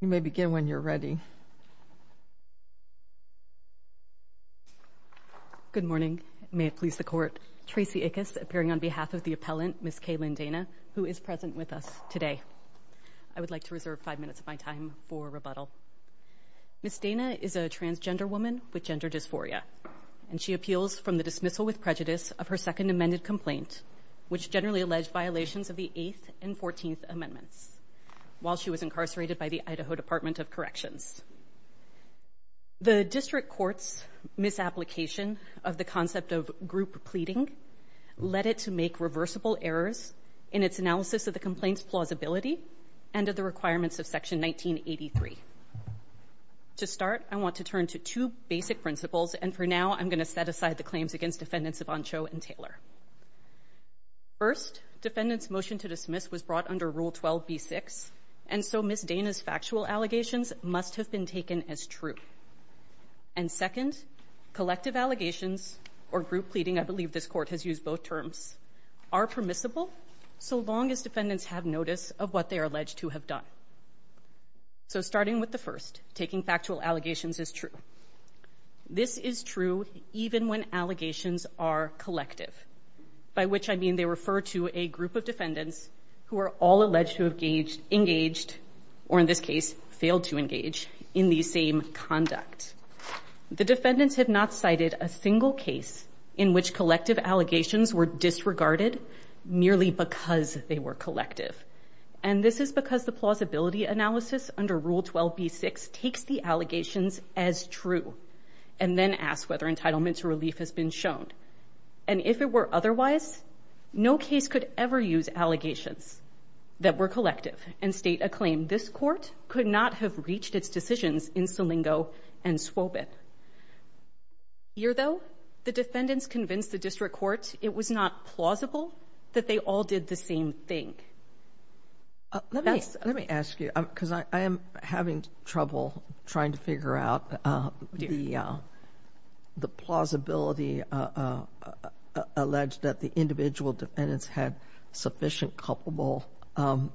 You may begin when you're ready. Good morning. May it please the Court. Tracy Ickes, appearing on behalf of the appellant, Ms. Kay Lynn Dana, who is present with us today. I would like to reserve five minutes of my time for rebuttal. Ms. Dana is a transgender woman with gender dysphoria, and she appeals from the dismissal with prejudice of her Second Amendment complaint, which generally alleged violations of the Eighth and Fourteenth Amendments. While she was incarcerated by the Idaho Department of Corrections. The District Court's misapplication of the concept of group pleading led it to make reversible errors in its analysis of the complaint's plausibility and of the requirements of Section 1983. To start, I want to turn to two basic principles, and for now I'm going to set aside the claims against Defendants Ivancho and Taylor. First, Defendants' motion to dismiss was brought under Rule 12b-6, and so Ms. Dana's factual allegations must have been taken as true. And second, collective allegations, or group pleading, I believe this Court has used both terms, are permissible so long as Defendants have notice of what they are alleged to have done. So starting with the first, taking factual allegations is true. This is true even when allegations are collective, by which I mean they refer to a group of Defendants who are all alleged to have engaged, or in this case, failed to engage, in the same conduct. The Defendants have not cited a single case in which collective allegations were disregarded merely because they were collective. And this is because the plausibility analysis under Rule 12b-6 takes the allegations as true, and then asks whether entitlement to relief has been shown. And if it were otherwise, no case could ever use allegations that were collective and state a claim this Court could not have reached its decisions in Solingo and Swobeth. Here, though, the Defendants convinced the District Court it was not plausible that they all did the same thing. Let me ask you, because I am having trouble trying to figure out the plausibility alleged that the individual Defendants had sufficient culpable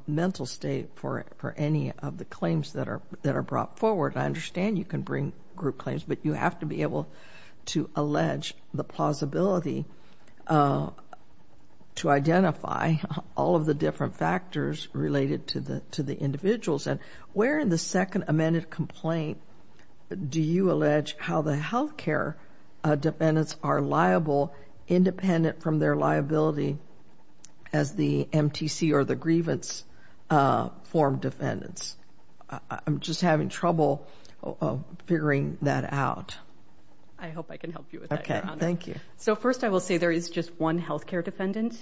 mental state for any of the claims that are brought forward. I understand you can bring group claims, but you have to be able to allege the plausibility to identify all of the different factors related to the individuals. And where in the second amended complaint do you allege how the health care Defendants are liable, independent from their liability, as the MTC or the grievance form Defendants? I'm just having trouble figuring that out. I hope I can help you with that, Your Honor. Thank you. First, I will say there is just one health care Defendant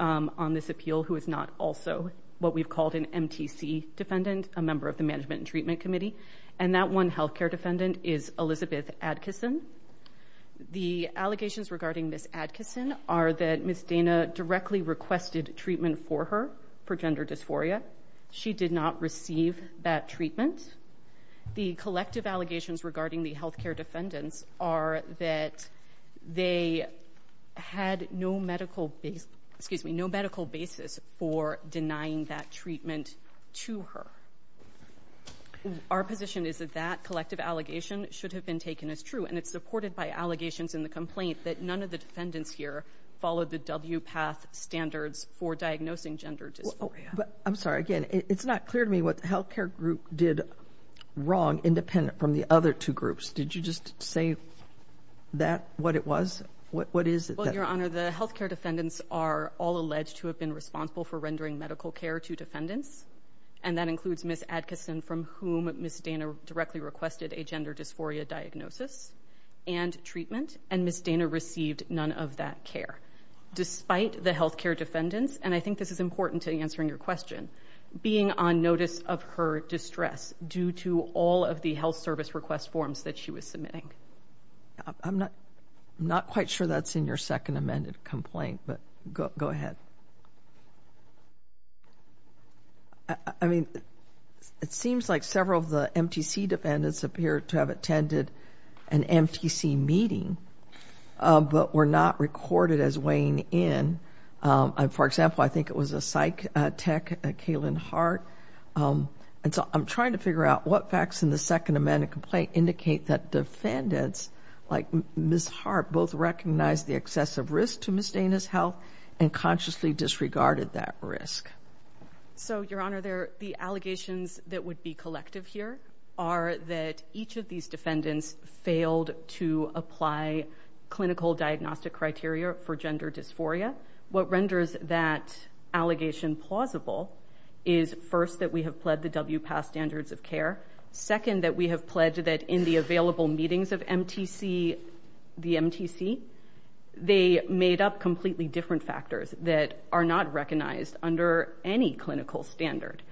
on this appeal who is not also what we've called an MTC Defendant, a member of the Management and Treatment Committee, and that one health care Defendant is Elizabeth Adkisson. The allegations regarding Ms. Adkisson are that Ms. Dana directly requested treatment for her for gender dysphoria. She did not receive that treatment. The collective allegations regarding the health care Defendants are that they had no medical basis for denying that treatment to her. Our position is that that collective allegation should have been taken as true, and it's supported by allegations in the complaint that none of the Defendants here followed the WPATH standards for diagnosing gender dysphoria. I'm sorry. Again, it's not clear to me what the health care group did wrong, independent from the other two groups. Did you just say that, what it was? What is it? Well, Your Honor, the health care Defendants are all alleged to have been responsible for rendering medical care to Defendants, and that includes Ms. Adkisson, from whom Ms. Dana directly requested a gender dysphoria diagnosis and treatment, and Ms. Dana received none of that care. Despite the health care Defendants, and I think this is important to answering your question, being on notice of her distress due to all of the health service request forms that she was submitting. I'm not quite sure that's in your second amended complaint, but go ahead. I mean, it seems like several of the MTC Defendants appear to have attended an MTC meeting, but were not recorded as weighing in. For example, I think it was a psych tech, Kaylin Hart. And so I'm trying to figure out what facts in the second amended complaint indicate that Defendants, like Ms. Hart, both recognized the excessive risk to Ms. Dana's health and consciously disregarded that risk. So, Your Honor, the allegations that would be collective here are that each of these Defendants failed to apply clinical diagnostic criteria for gender dysphoria. What renders that allegation plausible is, first, that we have pled the WPAS standards of care, second, that we have pledged that in the available meetings of the MTC, they made up completely different factors that are not recognized under any clinical standard.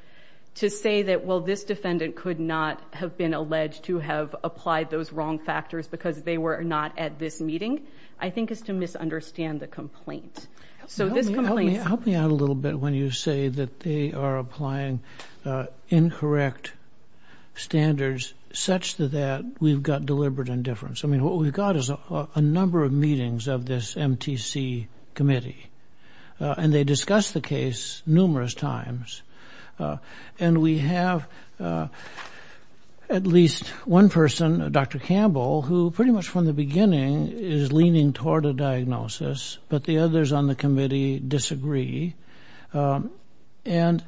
To say that, well, this Defendant could not have been alleged to have applied those wrong factors because they were not at this meeting, I think is to misunderstand the complaint. Help me out a little bit when you say that they are applying incorrect standards such that we've got deliberate indifference. I mean, what we've got is a number of meetings of this MTC committee, and they discuss the case numerous times. And we have at least one person, Dr. Campbell, who pretty much from the beginning is leaning toward a diagnosis, but the others on the committee disagree. And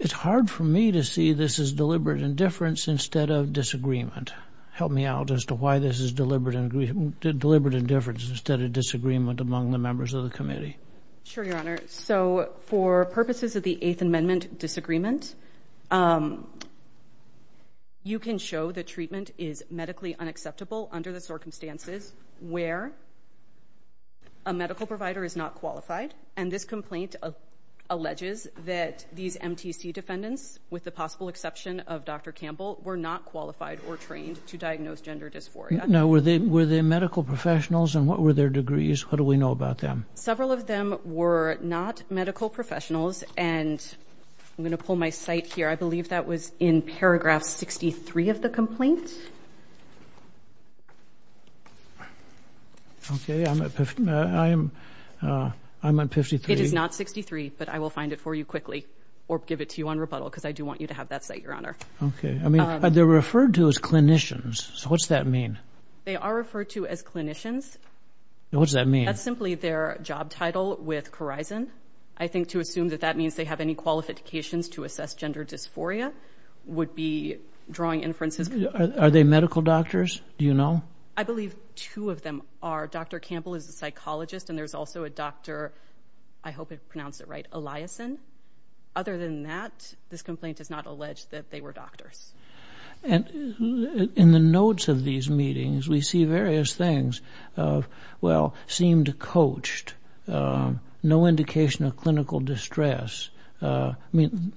it's hard for me to see this as deliberate indifference instead of disagreement. Help me out as to why this is deliberate indifference instead of disagreement among the members of the committee. Sure, Your Honor. So for purposes of the Eighth Amendment disagreement, you can show that treatment is medically unacceptable under the circumstances where a medical provider is not qualified, and this complaint alleges that these MTC defendants, with the possible exception of Dr. Campbell, were not qualified or trained to diagnose gender dysphoria. Now, were they medical professionals, and what were their degrees? What do we know about them? Several of them were not medical professionals, and I'm going to pull my site here. I believe that was in paragraph 63 of the complaint. Okay. I'm at 53. It is not 63, but I will find it for you quickly or give it to you on rebuttal because I do want you to have that site, Your Honor. Okay. I mean, are they referred to as clinicians? What does that mean? They are referred to as clinicians. What does that mean? That's simply their job title with Corizon. I think to assume that that means they have any qualifications to assess gender dysphoria would be drawing inferences. Are they medical doctors? Do you know? I believe two of them are. Dr. Campbell is a psychologist, and there's also a doctor, I hope I pronounced it right, Eliason. Other than that, this complaint does not allege that they were doctors. And in the notes of these meetings, we see various things of, well, seemed coached, no indication of clinical distress. I mean,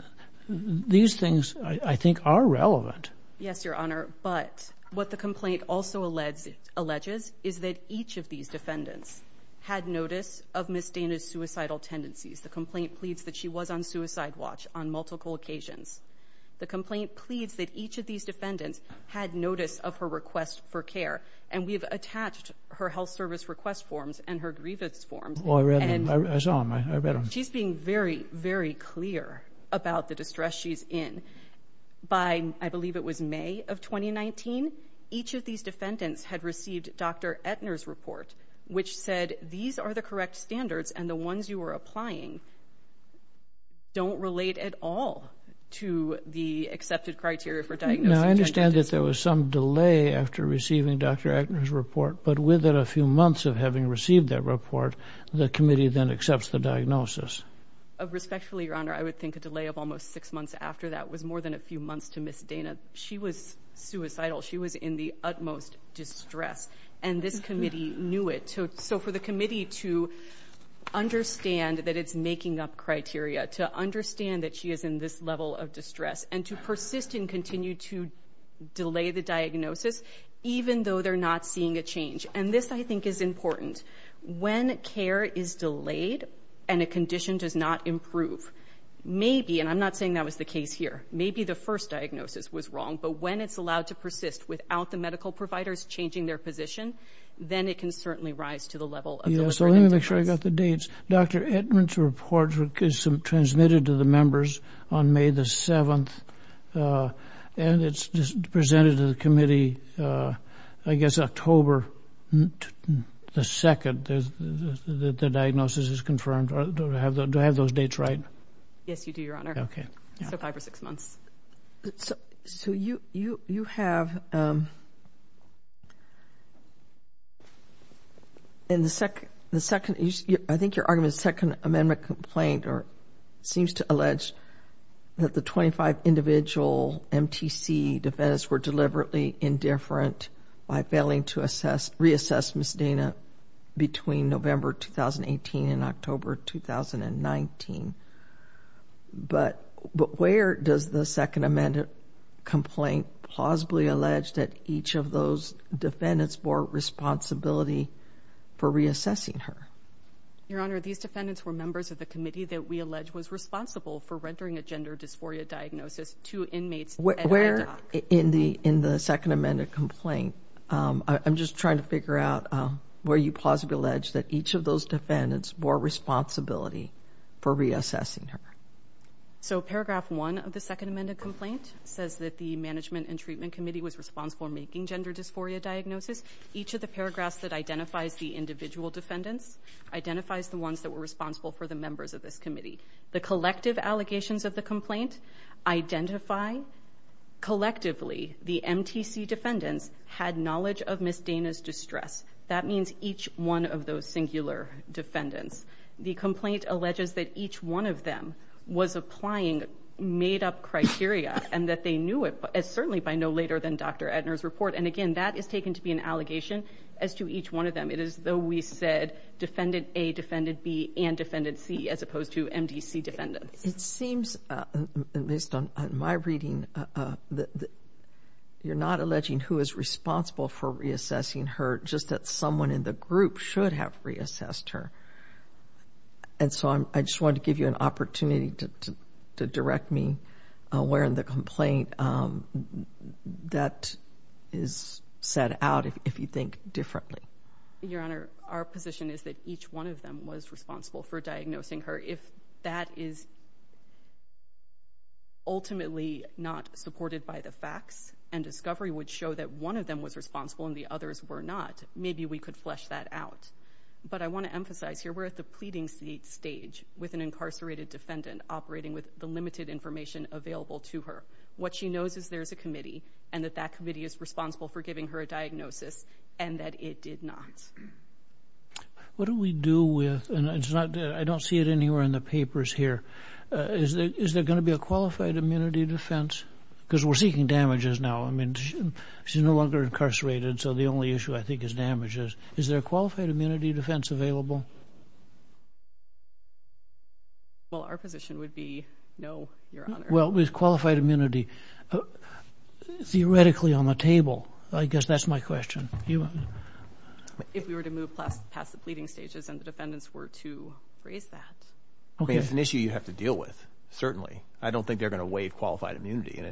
these things, I think, are relevant. Yes, Your Honor. But what the complaint also alleges is that each of these defendants had notice of Ms. Dana's suicidal tendencies. The complaint pleads that she was on suicide watch on multiple occasions. The complaint pleads that each of these defendants had notice of her request for care, and we have attached her health service request forms and her grievance forms. Oh, I read them. I saw them. I read them. She's being very, very clear about the distress she's in. By, I believe it was May of 2019, each of these defendants had received Dr. Etner's report, which said these are the correct standards, and the ones you are applying don't relate at all to the accepted criteria for diagnosing gender dysphoria. I believe that there was some delay after receiving Dr. Etner's report, but within a few months of having received that report, the committee then accepts the diagnosis. Respectfully, Your Honor, I would think a delay of almost six months after that was more than a few months to Ms. Dana. She was suicidal. She was in the utmost distress, and this committee knew it. So for the committee to understand that it's making up criteria, to understand that she is in this level of distress, and to persist and continue to delay the diagnosis, even though they're not seeing a change. And this, I think, is important. When care is delayed and a condition does not improve, maybe, and I'm not saying that was the case here, maybe the first diagnosis was wrong, but when it's allowed to persist without the medical providers changing their position, then it can certainly rise to the level of the literature. Yes, so let me make sure I got the dates. Dr. Edmond's report is transmitted to the members on May the 7th, and it's presented to the committee, I guess, October the 2nd that the diagnosis is confirmed. Do I have those dates right? Yes, you do, Your Honor. Okay. So five or six months. So you have, in the second, I think your argument is second amendment complaint or seems to allege that the 25 individual MTC defendants were deliberately indifferent by failing to reassess Ms. Dana between November 2018 and October 2019. But where does the second amendment complaint plausibly allege that each of those defendants bore responsibility for reassessing her? Your Honor, these defendants were members of the committee that we allege was responsible for rendering a gender dysphoria diagnosis to inmates at our dock. Where in the second amendment complaint, I'm just trying to figure out where you plausibly allege that each of those defendants bore responsibility for reassessing her. So paragraph one of the second amendment complaint says that the Management and Treatment Committee was responsible for making gender dysphoria diagnosis. Each of the paragraphs that identifies the individual defendants identifies the ones that were responsible for the members of this committee. The collective allegations of the complaint identify collectively the MTC defendants had knowledge of Ms. Dana's distress. That means each one of those singular defendants. The complaint alleges that each one of them was applying made-up criteria and that they knew it, certainly by no later than Dr. Edner's report. And again, that is taken to be an allegation as to each one of them. It is though we said defendant A, defendant B, and defendant C as opposed to MDC defendants. It seems, at least on my reading, that you're not alleging who is responsible for reassessing her just that someone in the group should have reassessed her. And so I just wanted to give you an opportunity to direct me where in the complaint that is set out if you think differently. Your Honor, our position is that each one of them was responsible for diagnosing her. If that is ultimately not supported by the facts and discovery would show that one of them was responsible and the others were not, maybe we could flesh that out. But I want to emphasize here we're at the pleading stage with an incarcerated defendant operating with the limited information available to her. What she knows is there's a committee and that that committee is responsible for giving her a diagnosis and that it did not. What do we do with, and I don't see it anywhere in the papers here, is there going to be a qualified immunity defense? Because we're seeking damages now. I mean, she's no longer incarcerated, so the only issue I think is damages. Is there a qualified immunity defense available? Well, our position would be no, Your Honor. Well, with qualified immunity, theoretically on the table, I guess that's my question. If we were to move past the pleading stages and the defendants were to raise that. It's an issue you have to deal with, certainly. I don't think they're going to waive qualified immunity.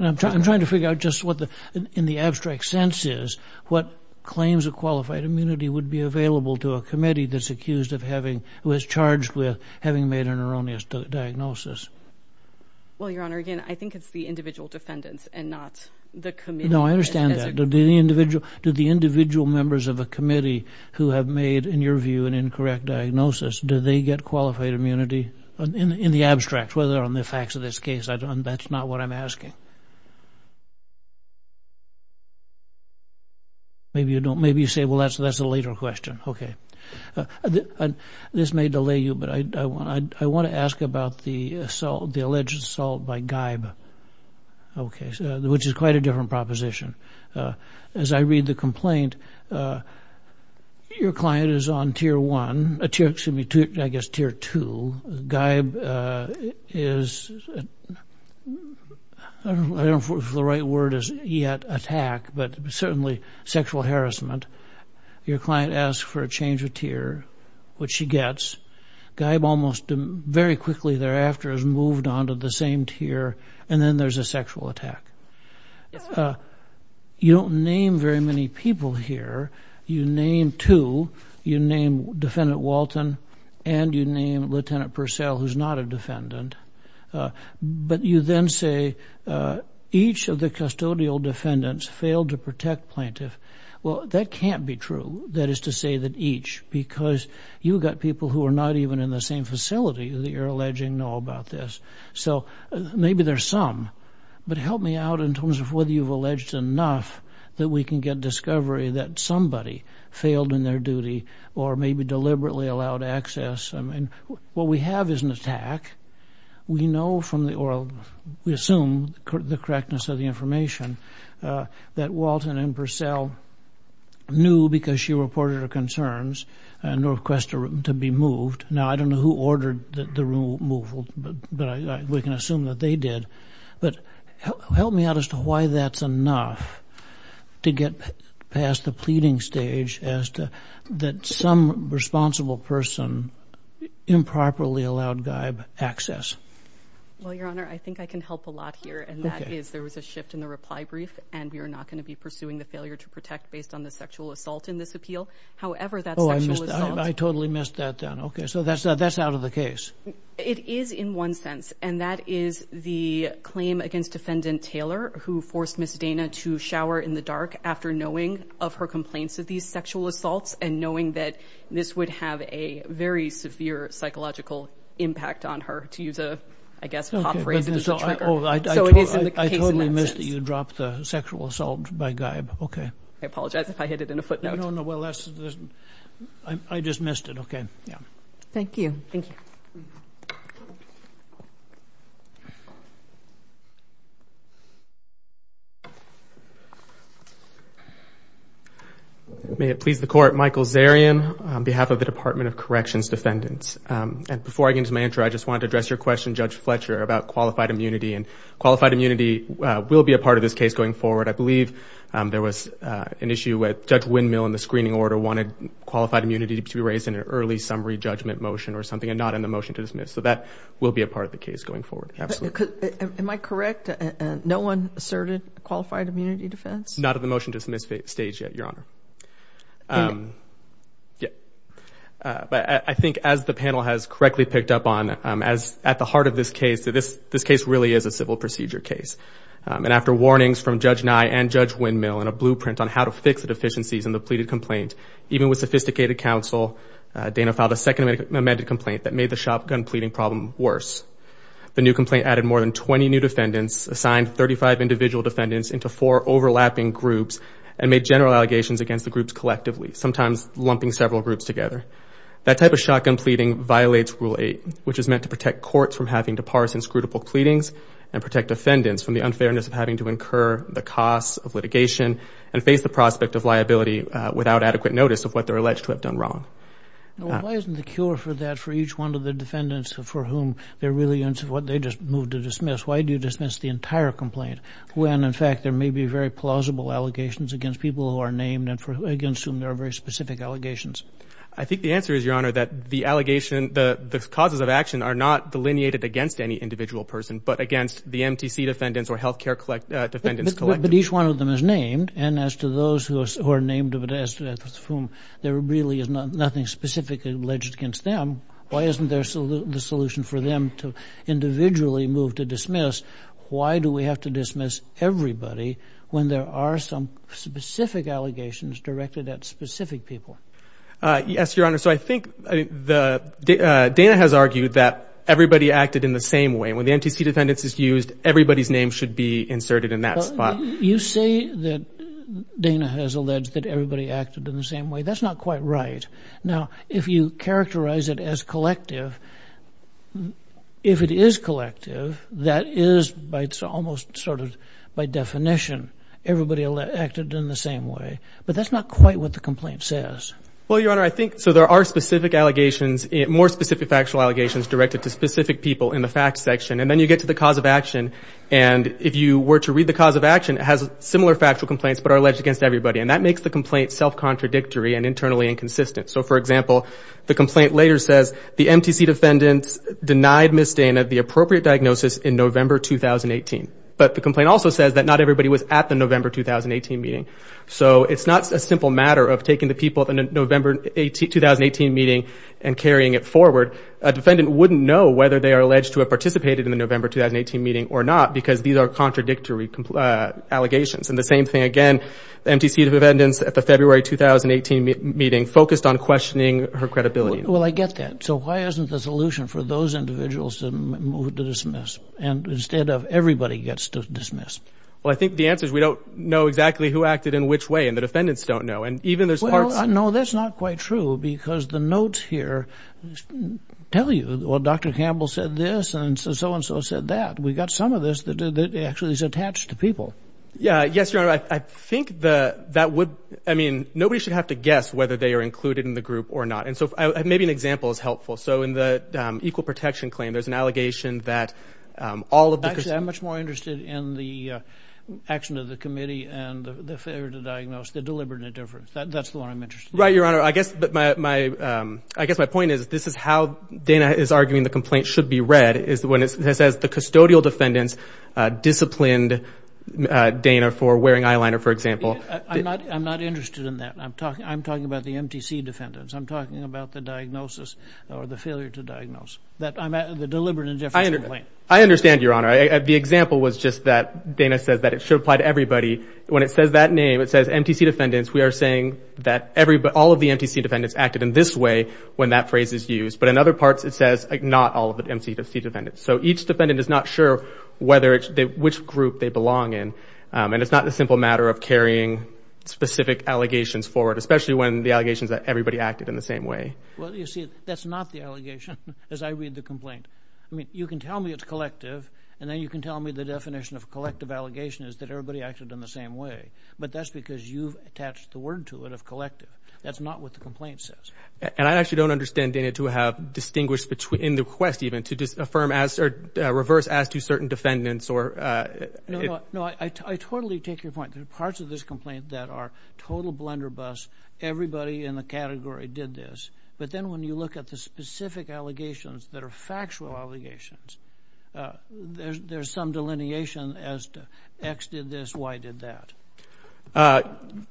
I'm trying to figure out just what, in the abstract sense is, what claims of qualified immunity would be available to a committee that's accused of having, who is charged with having made an erroneous diagnosis. Well, Your Honor, again, I think it's the individual defendants and not the committee. No, I understand that. Do the individual members of a committee who have made, in your view, an incorrect diagnosis, do they get qualified immunity? In the abstract, whether on the facts of this case, that's not what I'm asking. Maybe you say, well, that's a later question. Okay. This may delay you, but I want to ask about the alleged assault by Geib, which is quite a different proposition. As I read the complaint, your client is on Tier 1, excuse me, I guess Tier 2. Geib is, I don't know if the right word is yet attack, but certainly sexual harassment. Your client asks for a change of tier, which she gets. Geib almost very quickly thereafter has moved on to the same tier, and then there's a sexual attack. You don't name very many people here. You name two. You name Defendant Walton, and you name Lieutenant Purcell, who's not a defendant. But you then say each of the custodial defendants failed to protect plaintiff. Well, that can't be true, that is to say that each, because you've got people who are not even in the same facility that you're alleging know about this. So maybe there's some, but help me out in terms of whether you've alleged enough that we can get discovery that somebody failed in their duty or maybe deliberately allowed access. What we have is an attack. We know from the, or we assume the correctness of the information that Walton and Purcell knew because she reported her concerns and requested to be moved. Now, I don't know who ordered the removal, but we can assume that they did. But help me out as to why that's enough to get past the pleading stage as to that some responsible person improperly allowed Geib access. Well, Your Honor, I think I can help a lot here, and that is there was a shift in the reply brief, and we are not going to be pursuing the failure to protect based on the sexual assault in this appeal. However, that sexual assault. Oh, I totally missed that then. Okay, so that's out of the case. It is in one sense, and that is the claim against Defendant Taylor who forced Ms. Dana to shower in the dark after knowing of her complaints of these sexual assaults and knowing that this would have a very severe psychological impact on her, to use a, I guess, pop phrase. So it is in the case in that sense. I totally missed that you dropped the sexual assault by Geib. Okay. I apologize if I hit it in a footnote. No, no. I just missed it. Okay. Thank you. Thank you. May it please the Court. Michael Zarian on behalf of the Department of Corrections Defendants. Before I get into my answer, I just wanted to address your question, Judge Fletcher, about qualified immunity. Qualified immunity will be a part of this case going forward. I believe there was an issue where Judge Windmill in the screening order wanted qualified immunity to be raised in an early summary judgment motion or something and not in the motion to dismiss. So that will be a part of the case going forward. Absolutely. Am I correct? No one asserted qualified immunity defense? Not at the motion to dismiss stage yet, Your Honor. Okay. Yeah. But I think as the panel has correctly picked up on, at the heart of this case, this case really is a civil procedure case. And after warnings from Judge Nye and Judge Windmill and a blueprint on how to fix the deficiencies in the pleaded complaint, even with sophisticated counsel, Dana filed a second amended complaint that made the shotgun pleading problem worse. The new complaint added more than 20 new defendants, assigned 35 individual defendants into four overlapping groups, and made general allegations against the groups collectively, sometimes lumping several groups together. That type of shotgun pleading violates Rule 8, which is meant to protect courts from having to parse inscrutable pleadings and protect defendants from the unfairness of having to incur the costs of litigation and face the prospect of liability without adequate notice of what they're alleged to have done wrong. Why isn't the cure for that for each one of the defendants for whom they're really into what they just moved to dismiss? Why do you dismiss the entire complaint when, in fact, there may be very plausible allegations against people who are named and against whom there are very specific allegations? I think the answer is, Your Honor, that the allegation, the causes of action are not delineated against any individual person, but against the MTC defendants or health care defendants collectively. But each one of them is named, and as to those who are named as to whom there really is nothing specifically alleged against them, why isn't there the solution for them to individually move to dismiss? Why do we have to dismiss everybody when there are some specific allegations directed at specific people? Yes, Your Honor, so I think Dana has argued that everybody acted in the same way. When the MTC defendants is used, everybody's name should be inserted in that spot. You say that Dana has alleged that everybody acted in the same way. That's not quite right. Now, if you characterize it as collective, if it is collective, that is almost sort of by definition. Everybody acted in the same way. But that's not quite what the complaint says. Well, Your Honor, I think, so there are specific allegations, more specific factual allegations directed to specific people in the facts section, and then you get to the cause of action. And if you were to read the cause of action, it has similar factual complaints but are alleged against everybody. And that makes the complaint self-contradictory and internally inconsistent. So, for example, the complaint later says, the MTC defendants denied Ms. Dana the appropriate diagnosis in November 2018. But the complaint also says that not everybody was at the November 2018 meeting. So it's not a simple matter of taking the people at the November 2018 meeting and carrying it forward. A defendant wouldn't know whether they are alleged to have participated in the November 2018 meeting or not because these are contradictory allegations. And the same thing again, the MTC defendants at the February 2018 meeting focused on questioning her credibility. Well, I get that. So why isn't the solution for those individuals to move to dismiss instead of everybody gets to dismiss? Well, I think the answer is we don't know exactly who acted in which way, and the defendants don't know. And even there's parts— Well, Dr. Campbell said this and so-and-so said that. We've got some of this that actually is attached to people. Yeah, yes, Your Honor. I think that would—I mean, nobody should have to guess whether they are included in the group or not. And so maybe an example is helpful. So in the equal protection claim, there's an allegation that all of the— Actually, I'm much more interested in the action of the committee and the failure to diagnose the deliberate indifference. That's the one I'm interested in. Right, Your Honor. I guess my point is this is how Dana is arguing the complaint should be read is when it says the custodial defendants disciplined Dana for wearing eyeliner, for example. I'm not interested in that. I'm talking about the MTC defendants. I'm talking about the diagnosis or the failure to diagnose, the deliberate indifference complaint. I understand, Your Honor. The example was just that Dana says that it should apply to everybody. When it says that name, it says MTC defendants, we are saying that all of the MTC defendants acted in this way when that phrase is used. But in other parts, it says not all of the MTC defendants. So each defendant is not sure which group they belong in. And it's not a simple matter of carrying specific allegations forward, especially when the allegation is that everybody acted in the same way. Well, you see, that's not the allegation as I read the complaint. I mean, you can tell me it's collective, and then you can tell me the definition of collective allegation is that everybody acted in the same way. But that's because you've attached the word to it of collective. That's not what the complaint says. And I actually don't understand, Dana, to have distinguished in the request, even, to disaffirm as or reverse as to certain defendants. No, I totally take your point. There are parts of this complaint that are total blunderbuss. Everybody in the category did this. But then when you look at the specific allegations that are factual allegations, there's some delineation as to X did this, Y did that.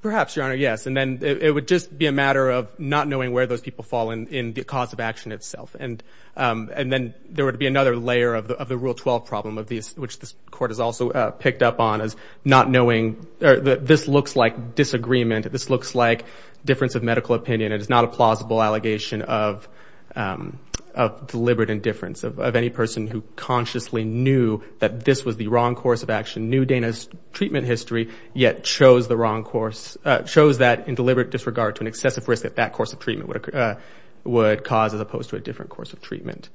Perhaps, Your Honor, yes. And then it would just be a matter of not knowing where those people fall in the cause of action itself. And then there would be another layer of the Rule 12 problem, which this Court has also picked up on, as not knowing. This looks like disagreement. This looks like difference of medical opinion. It is not a plausible allegation of deliberate indifference of any person who consciously knew that this was the wrong course of action, knew Dana's treatment history, yet chose that in deliberate disregard to an excessive risk that that course of treatment would cause as opposed to a different course of treatment.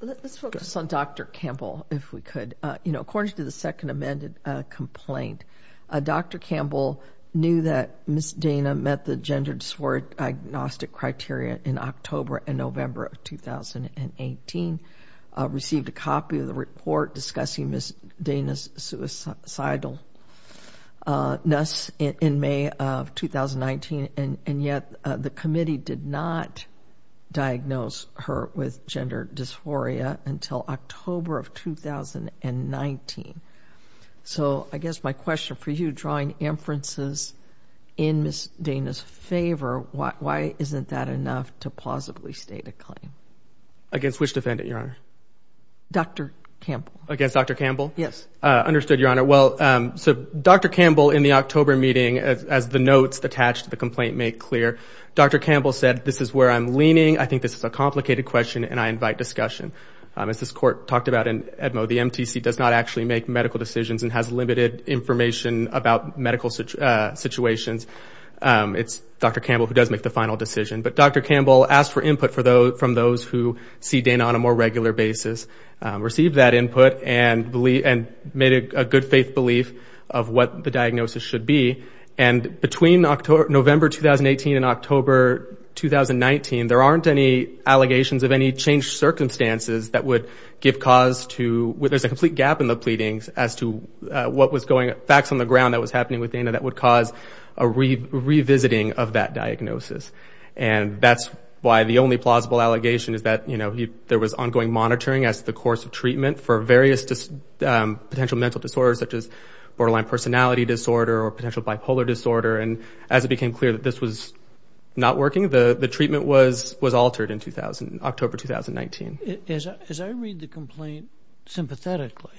Let's focus on Dr. Campbell, if we could. According to the second amended complaint, Dr. Campbell knew that Ms. Dana met the gender dysphoria diagnostic criteria in October and November of 2018, received a copy of the report discussing Ms. Dana's suicidalness in May of 2019, and yet the committee did not diagnose her with gender dysphoria until October of 2019. So I guess my question for you, drawing inferences in Ms. Dana's favor, why isn't that enough to plausibly state a claim? Against which defendant, Your Honor? Dr. Campbell. Against Dr. Campbell? Yes. Understood, Your Honor. Well, so Dr. Campbell, in the October meeting, as the notes attached to the complaint make clear, Dr. Campbell said, this is where I'm leaning, I think this is a complicated question, and I invite discussion. As this Court talked about in Edmo, the MTC does not actually make medical decisions and has limited information about medical situations. It's Dr. Campbell who does make the final decision. But Dr. Campbell asked for input from those who see Dana on a more regular basis, received that input, and made a good-faith belief of what the diagnosis should be. And between November 2018 and October 2019, there aren't any allegations of any changed circumstances that would give cause to, there's a complete gap in the pleadings as to what was going, facts on the ground that was happening with Dana that would cause a revisiting of that diagnosis. And that's why the only plausible allegation is that, you know, there was ongoing monitoring as to the course of treatment for various potential mental disorders, such as borderline personality disorder or potential bipolar disorder. And as it became clear that this was not working, the treatment was altered in October 2019. As I read the complaint sympathetically,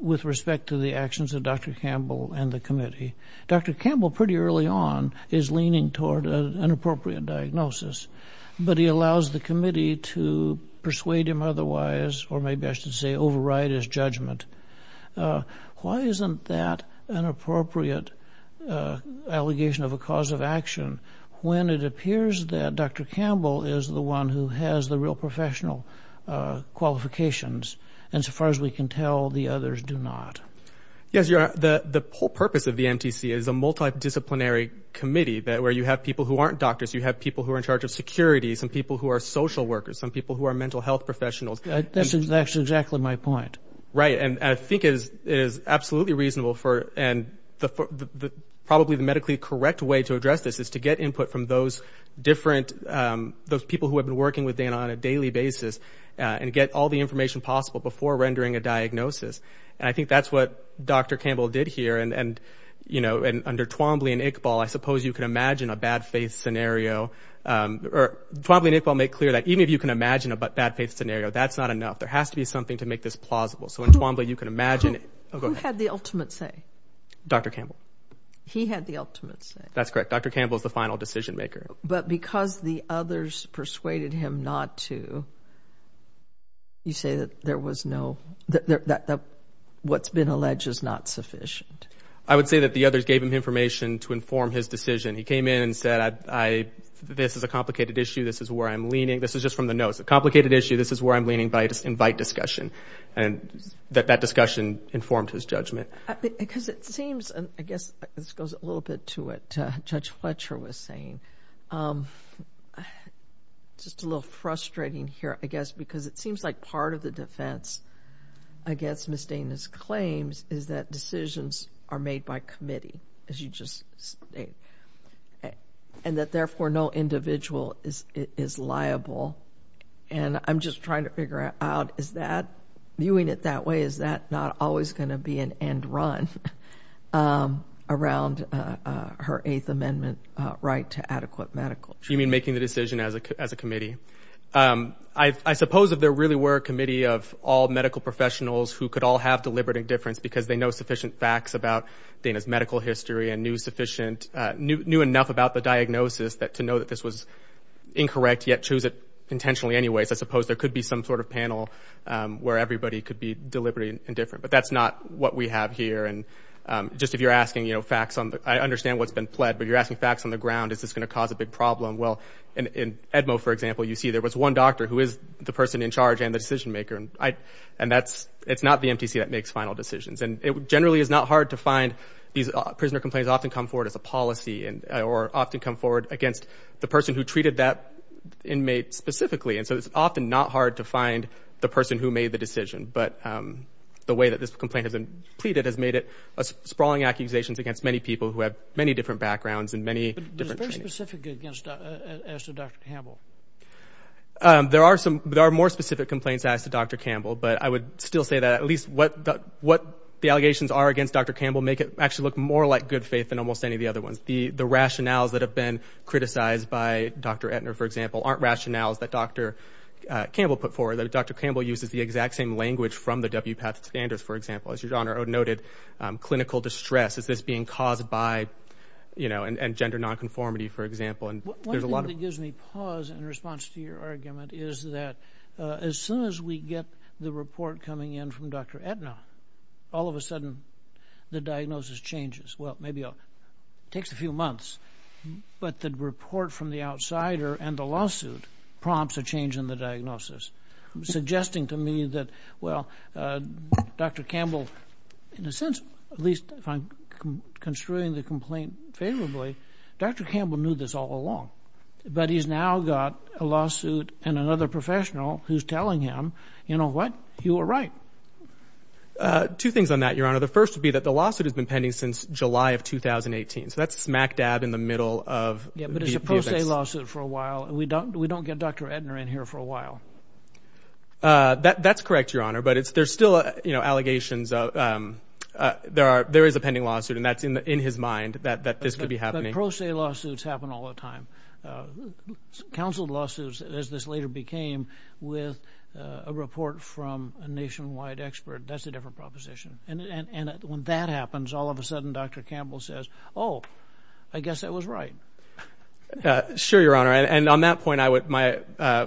with respect to the actions of Dr. Campbell and the committee, Dr. Campbell, pretty early on, is leaning toward an appropriate diagnosis. But he allows the committee to persuade him otherwise, or maybe I should say override his judgment. Why isn't that an appropriate allegation of a cause of action, when it appears that Dr. Campbell is the one who has the real professional qualifications, and so far as we can tell, the others do not? Yes, the whole purpose of the MTC is a multidisciplinary committee, where you have people who aren't doctors, you have people who are in charge of security, some people who are social workers, some people who are mental health professionals. That's exactly my point. Right, and I think it is absolutely reasonable, and probably the medically correct way to address this is to get input from those different, those people who have been working with Dana on a daily basis, and get all the information possible before rendering a diagnosis. And I think that's what Dr. Campbell did here, and, you know, under Twombly and Iqbal, I suppose you can imagine a bad faith scenario. Twombly and Iqbal make clear that even if you can imagine a bad faith scenario, that's not enough. There has to be something to make this plausible. So in Twombly, you can imagine it. Who had the ultimate say? Dr. Campbell. He had the ultimate say? That's correct. Dr. Campbell is the final decision maker. But because the others persuaded him not to, you say that there was no, that what's been alleged is not sufficient? I would say that the others gave him information to inform his decision. He came in and said, this is a complicated issue. This is where I'm leaning. This is just from the notes. A complicated issue. This is where I'm leaning, but I invite discussion. And that discussion informed his judgment. Because it seems, and I guess this goes a little bit to what Judge Fletcher was saying, just a little frustrating here, I guess, because it seems like part of the defense, against Ms. Dana's claims, is that decisions are made by committee, as you just stated. And that, therefore, no individual is liable. And I'm just trying to figure out, is that, viewing it that way, is that not always going to be an end run around her Eighth Amendment right to adequate medical treatment? You mean making the decision as a committee? I suppose if there really were a committee of all medical professionals who could all have deliberate indifference because they know sufficient facts about Dana's medical history and knew sufficient, knew enough about the diagnosis to know that this was incorrect, yet choose it intentionally anyways, I suppose there could be some sort of panel where everybody could be deliberately indifferent. But that's not what we have here. And just if you're asking, you know, facts, I understand what's been pled, but if you're asking facts on the ground, is this going to cause a big problem? Well, in Edmo, for example, you see there was one doctor who is the person in charge and the decision maker. And that's, it's not the MTC that makes final decisions. And it generally is not hard to find these prisoner complaints often come forward as a policy or often come forward against the person who treated that inmate specifically. And so it's often not hard to find the person who made the decision. But the way that this complaint has been pleaded has made it sprawling accusations against many people who have many different backgrounds and many different trainings. What's specific against, as to Dr. Campbell? There are some, there are more specific complaints as to Dr. Campbell, but I would still say that at least what the allegations are against Dr. Campbell make it actually look more like good faith than almost any of the other ones. The rationales that have been criticized by Dr. Etner, for example, aren't rationales that Dr. Campbell put forward, that Dr. Campbell uses the exact same language from the WPATH standards, for example. As Your Honor noted, clinical distress, is this being caused by, you know, and gender nonconformity, for example. One thing that gives me pause in response to your argument is that as soon as we get the report coming in from Dr. Etner, all of a sudden the diagnosis changes. Well, maybe it takes a few months. But the report from the outsider and the lawsuit prompts a change in the diagnosis, suggesting to me that, well, Dr. Campbell, in a sense, at least if I'm construing the complaint favorably, Dr. Campbell knew this all along. But he's now got a lawsuit and another professional who's telling him, you know what, you were right. Two things on that, Your Honor. The first would be that the lawsuit has been pending since July of 2018. So that's smack dab in the middle of the offense. Yeah, but it's a pro se lawsuit for a while. We don't get Dr. Etner in here for a while. That's correct, Your Honor. But there's still allegations. There is a pending lawsuit, and that's in his mind that this could be happening. But pro se lawsuits happen all the time. Counseled lawsuits, as this later became, with a report from a nationwide expert, that's a different proposition. And when that happens, all of a sudden Dr. Campbell says, oh, I guess I was right. Sure, Your Honor. And on that point, my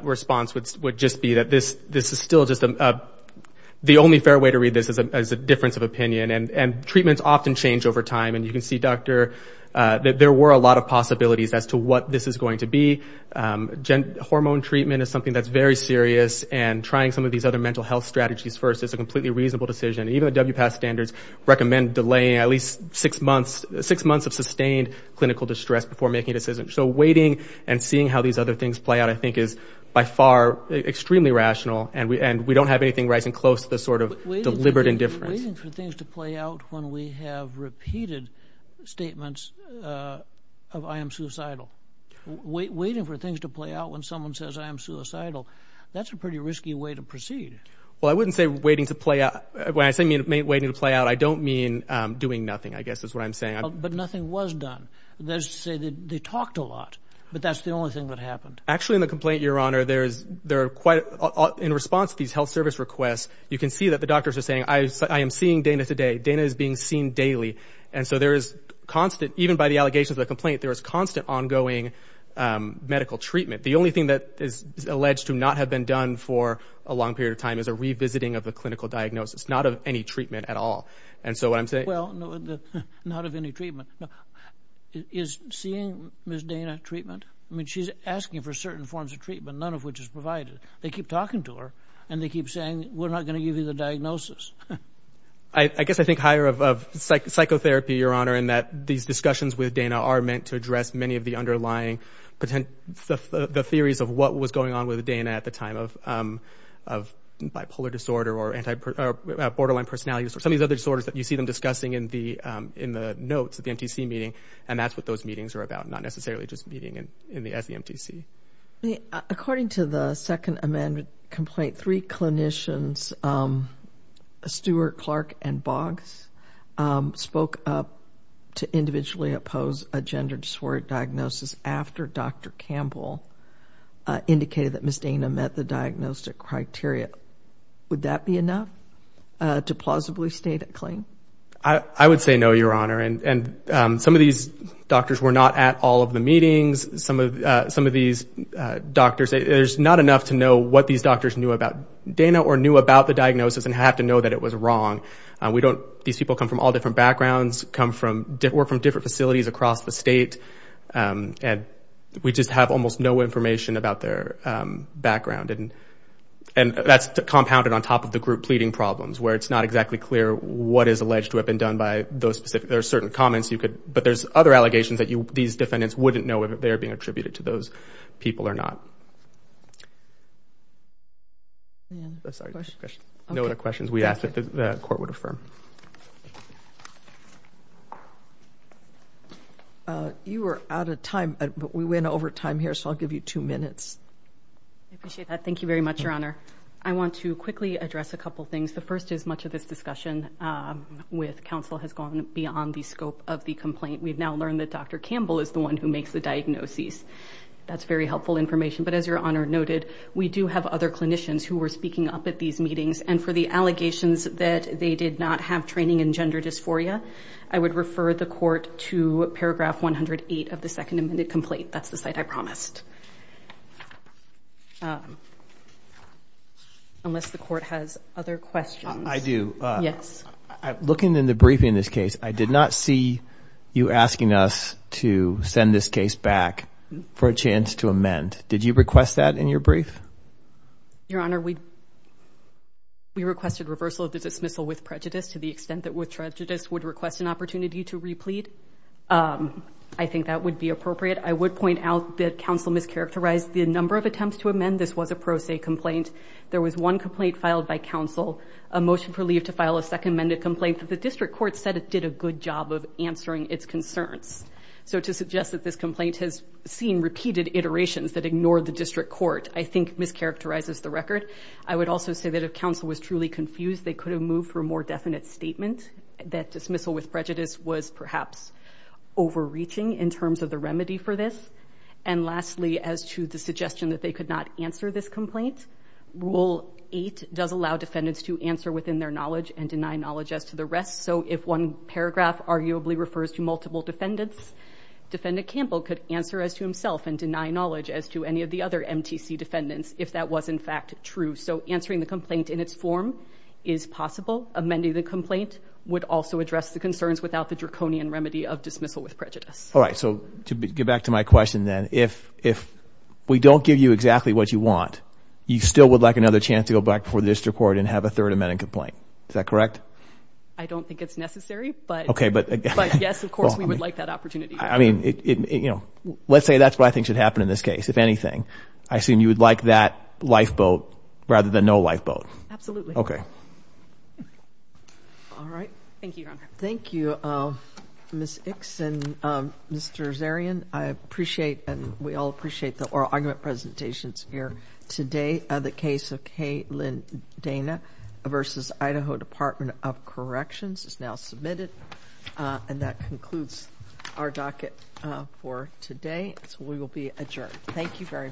response would just be that this is still just the only fair way to read this as a difference of opinion. And treatments often change over time. And you can see, Doctor, that there were a lot of possibilities as to what this is going to be. Hormone treatment is something that's very serious, and trying some of these other mental health strategies first is a completely reasonable decision. Even the WPATH standards recommend delaying at least six months of sustained clinical distress before making a decision. So waiting and seeing how these other things play out, I think, is by far extremely rational, and we don't have anything rising close to the sort of deliberate indifference. But waiting for things to play out when we have repeated statements of I am suicidal. Waiting for things to play out when someone says I am suicidal, that's a pretty risky way to proceed. Well, I wouldn't say waiting to play out. When I say waiting to play out, I don't mean doing nothing, I guess is what I'm saying. But nothing was done. That is to say they talked a lot, but that's the only thing that happened. Actually, in the complaint, Your Honor, there are quite, in response to these health service requests, you can see that the doctors are saying I am seeing Dana today. Dana is being seen daily. And so there is constant, even by the allegations of the complaint, there is constant ongoing medical treatment. The only thing that is alleged to not have been done for a long period of time is a revisiting of the clinical diagnosis, not of any treatment at all. And so what I'm saying. Well, not of any treatment. Is seeing Ms. Dana treatment? I mean, she's asking for certain forms of treatment, none of which is provided. They keep talking to her, and they keep saying we're not going to give you the diagnosis. I guess I think higher of psychotherapy, Your Honor, in that these discussions with Dana are meant to address many of the underlying theories of what was going on with Dana at the time of bipolar disorder or borderline personality disorder, or some of these other disorders that you see them discussing in the notes at the MTC meeting. And that's what those meetings are about, not necessarily just meeting at the MTC. According to the Second Amendment complaint, three clinicians, Stewart, Clark, and Boggs, spoke up to individually oppose a gender dysphoric diagnosis after Dr. Campbell indicated that Ms. Dana met the diagnostic criteria. Would that be enough to plausibly state a claim? I would say no, Your Honor. And some of these doctors were not at all of the meetings. Some of these doctors, there's not enough to know what these doctors knew about Dana or knew about the diagnosis and had to know that it was wrong. These people come from all different backgrounds, work from different facilities across the state, and we just have almost no information about their background. And that's compounded on top of the group pleading problems, where it's not exactly clear what is alleged to have been done by those specific. There are certain comments you could, but there's other allegations that these defendants wouldn't know if they're being attributed to those people or not. No other questions we ask that the Court would affirm. You were out of time, but we went over time here, so I'll give you two minutes. I appreciate that. Thank you very much, Your Honor. I want to quickly address a couple things. The first is much of this discussion with counsel has gone beyond the scope of the complaint. We've now learned that Dr. Campbell is the one who makes the diagnoses. That's very helpful information. But as Your Honor noted, we do have other clinicians who were speaking up at these meetings, and for the allegations that they did not have training in gender dysphoria, I would refer the Court to paragraph 108 of the second amended complaint. That's the site I promised. Unless the Court has other questions. I do. Yes. Looking in the briefing in this case, I did not see you asking us to send this case back for a chance to amend. Did you request that in your brief? Your Honor, we requested reversal of the dismissal with prejudice to the extent that with prejudice would request an opportunity to replete. I think that would be appropriate. I would point out that counsel mischaracterized the number of attempts to amend. This was a pro se complaint. There was one complaint filed by counsel, a motion for leave to file a second amended complaint, but the district court said it did a good job of answering its concerns. So to suggest that this complaint has seen repeated iterations that ignored the district court, I think mischaracterizes the record. I would also say that if counsel was truly confused, they could have moved for a more definite statement, that dismissal with prejudice was perhaps overreaching in terms of the remedy for this. And lastly, as to the suggestion that they could not answer this complaint, Rule 8 does allow defendants to answer within their knowledge and deny knowledge as to the rest. So if one paragraph arguably refers to multiple defendants, Defendant Campbell could answer as to himself and deny knowledge as to any of the other MTC defendants if that was in fact true. So answering the complaint in its form is possible. Amending the complaint would also address the concerns without the draconian remedy of dismissal with prejudice. All right. So to get back to my question, then, if we don't give you exactly what you want, you still would like another chance to go back before the district court and have a third amended complaint. Is that correct? I don't think it's necessary, but yes, of course, we would like that opportunity. I mean, let's say that's what I think should happen in this case, if anything. I assume you would like that lifeboat rather than no lifeboat. Absolutely. Okay. All right. Thank you, Your Honor. Thank you, Ms. Ickson. Mr. Zarian, I appreciate and we all appreciate the oral argument presentations here today. The case of Kay Lynn Dana v. Idaho Department of Corrections is now submitted. And that concludes our docket for today. So we will be adjourned. Thank you very much.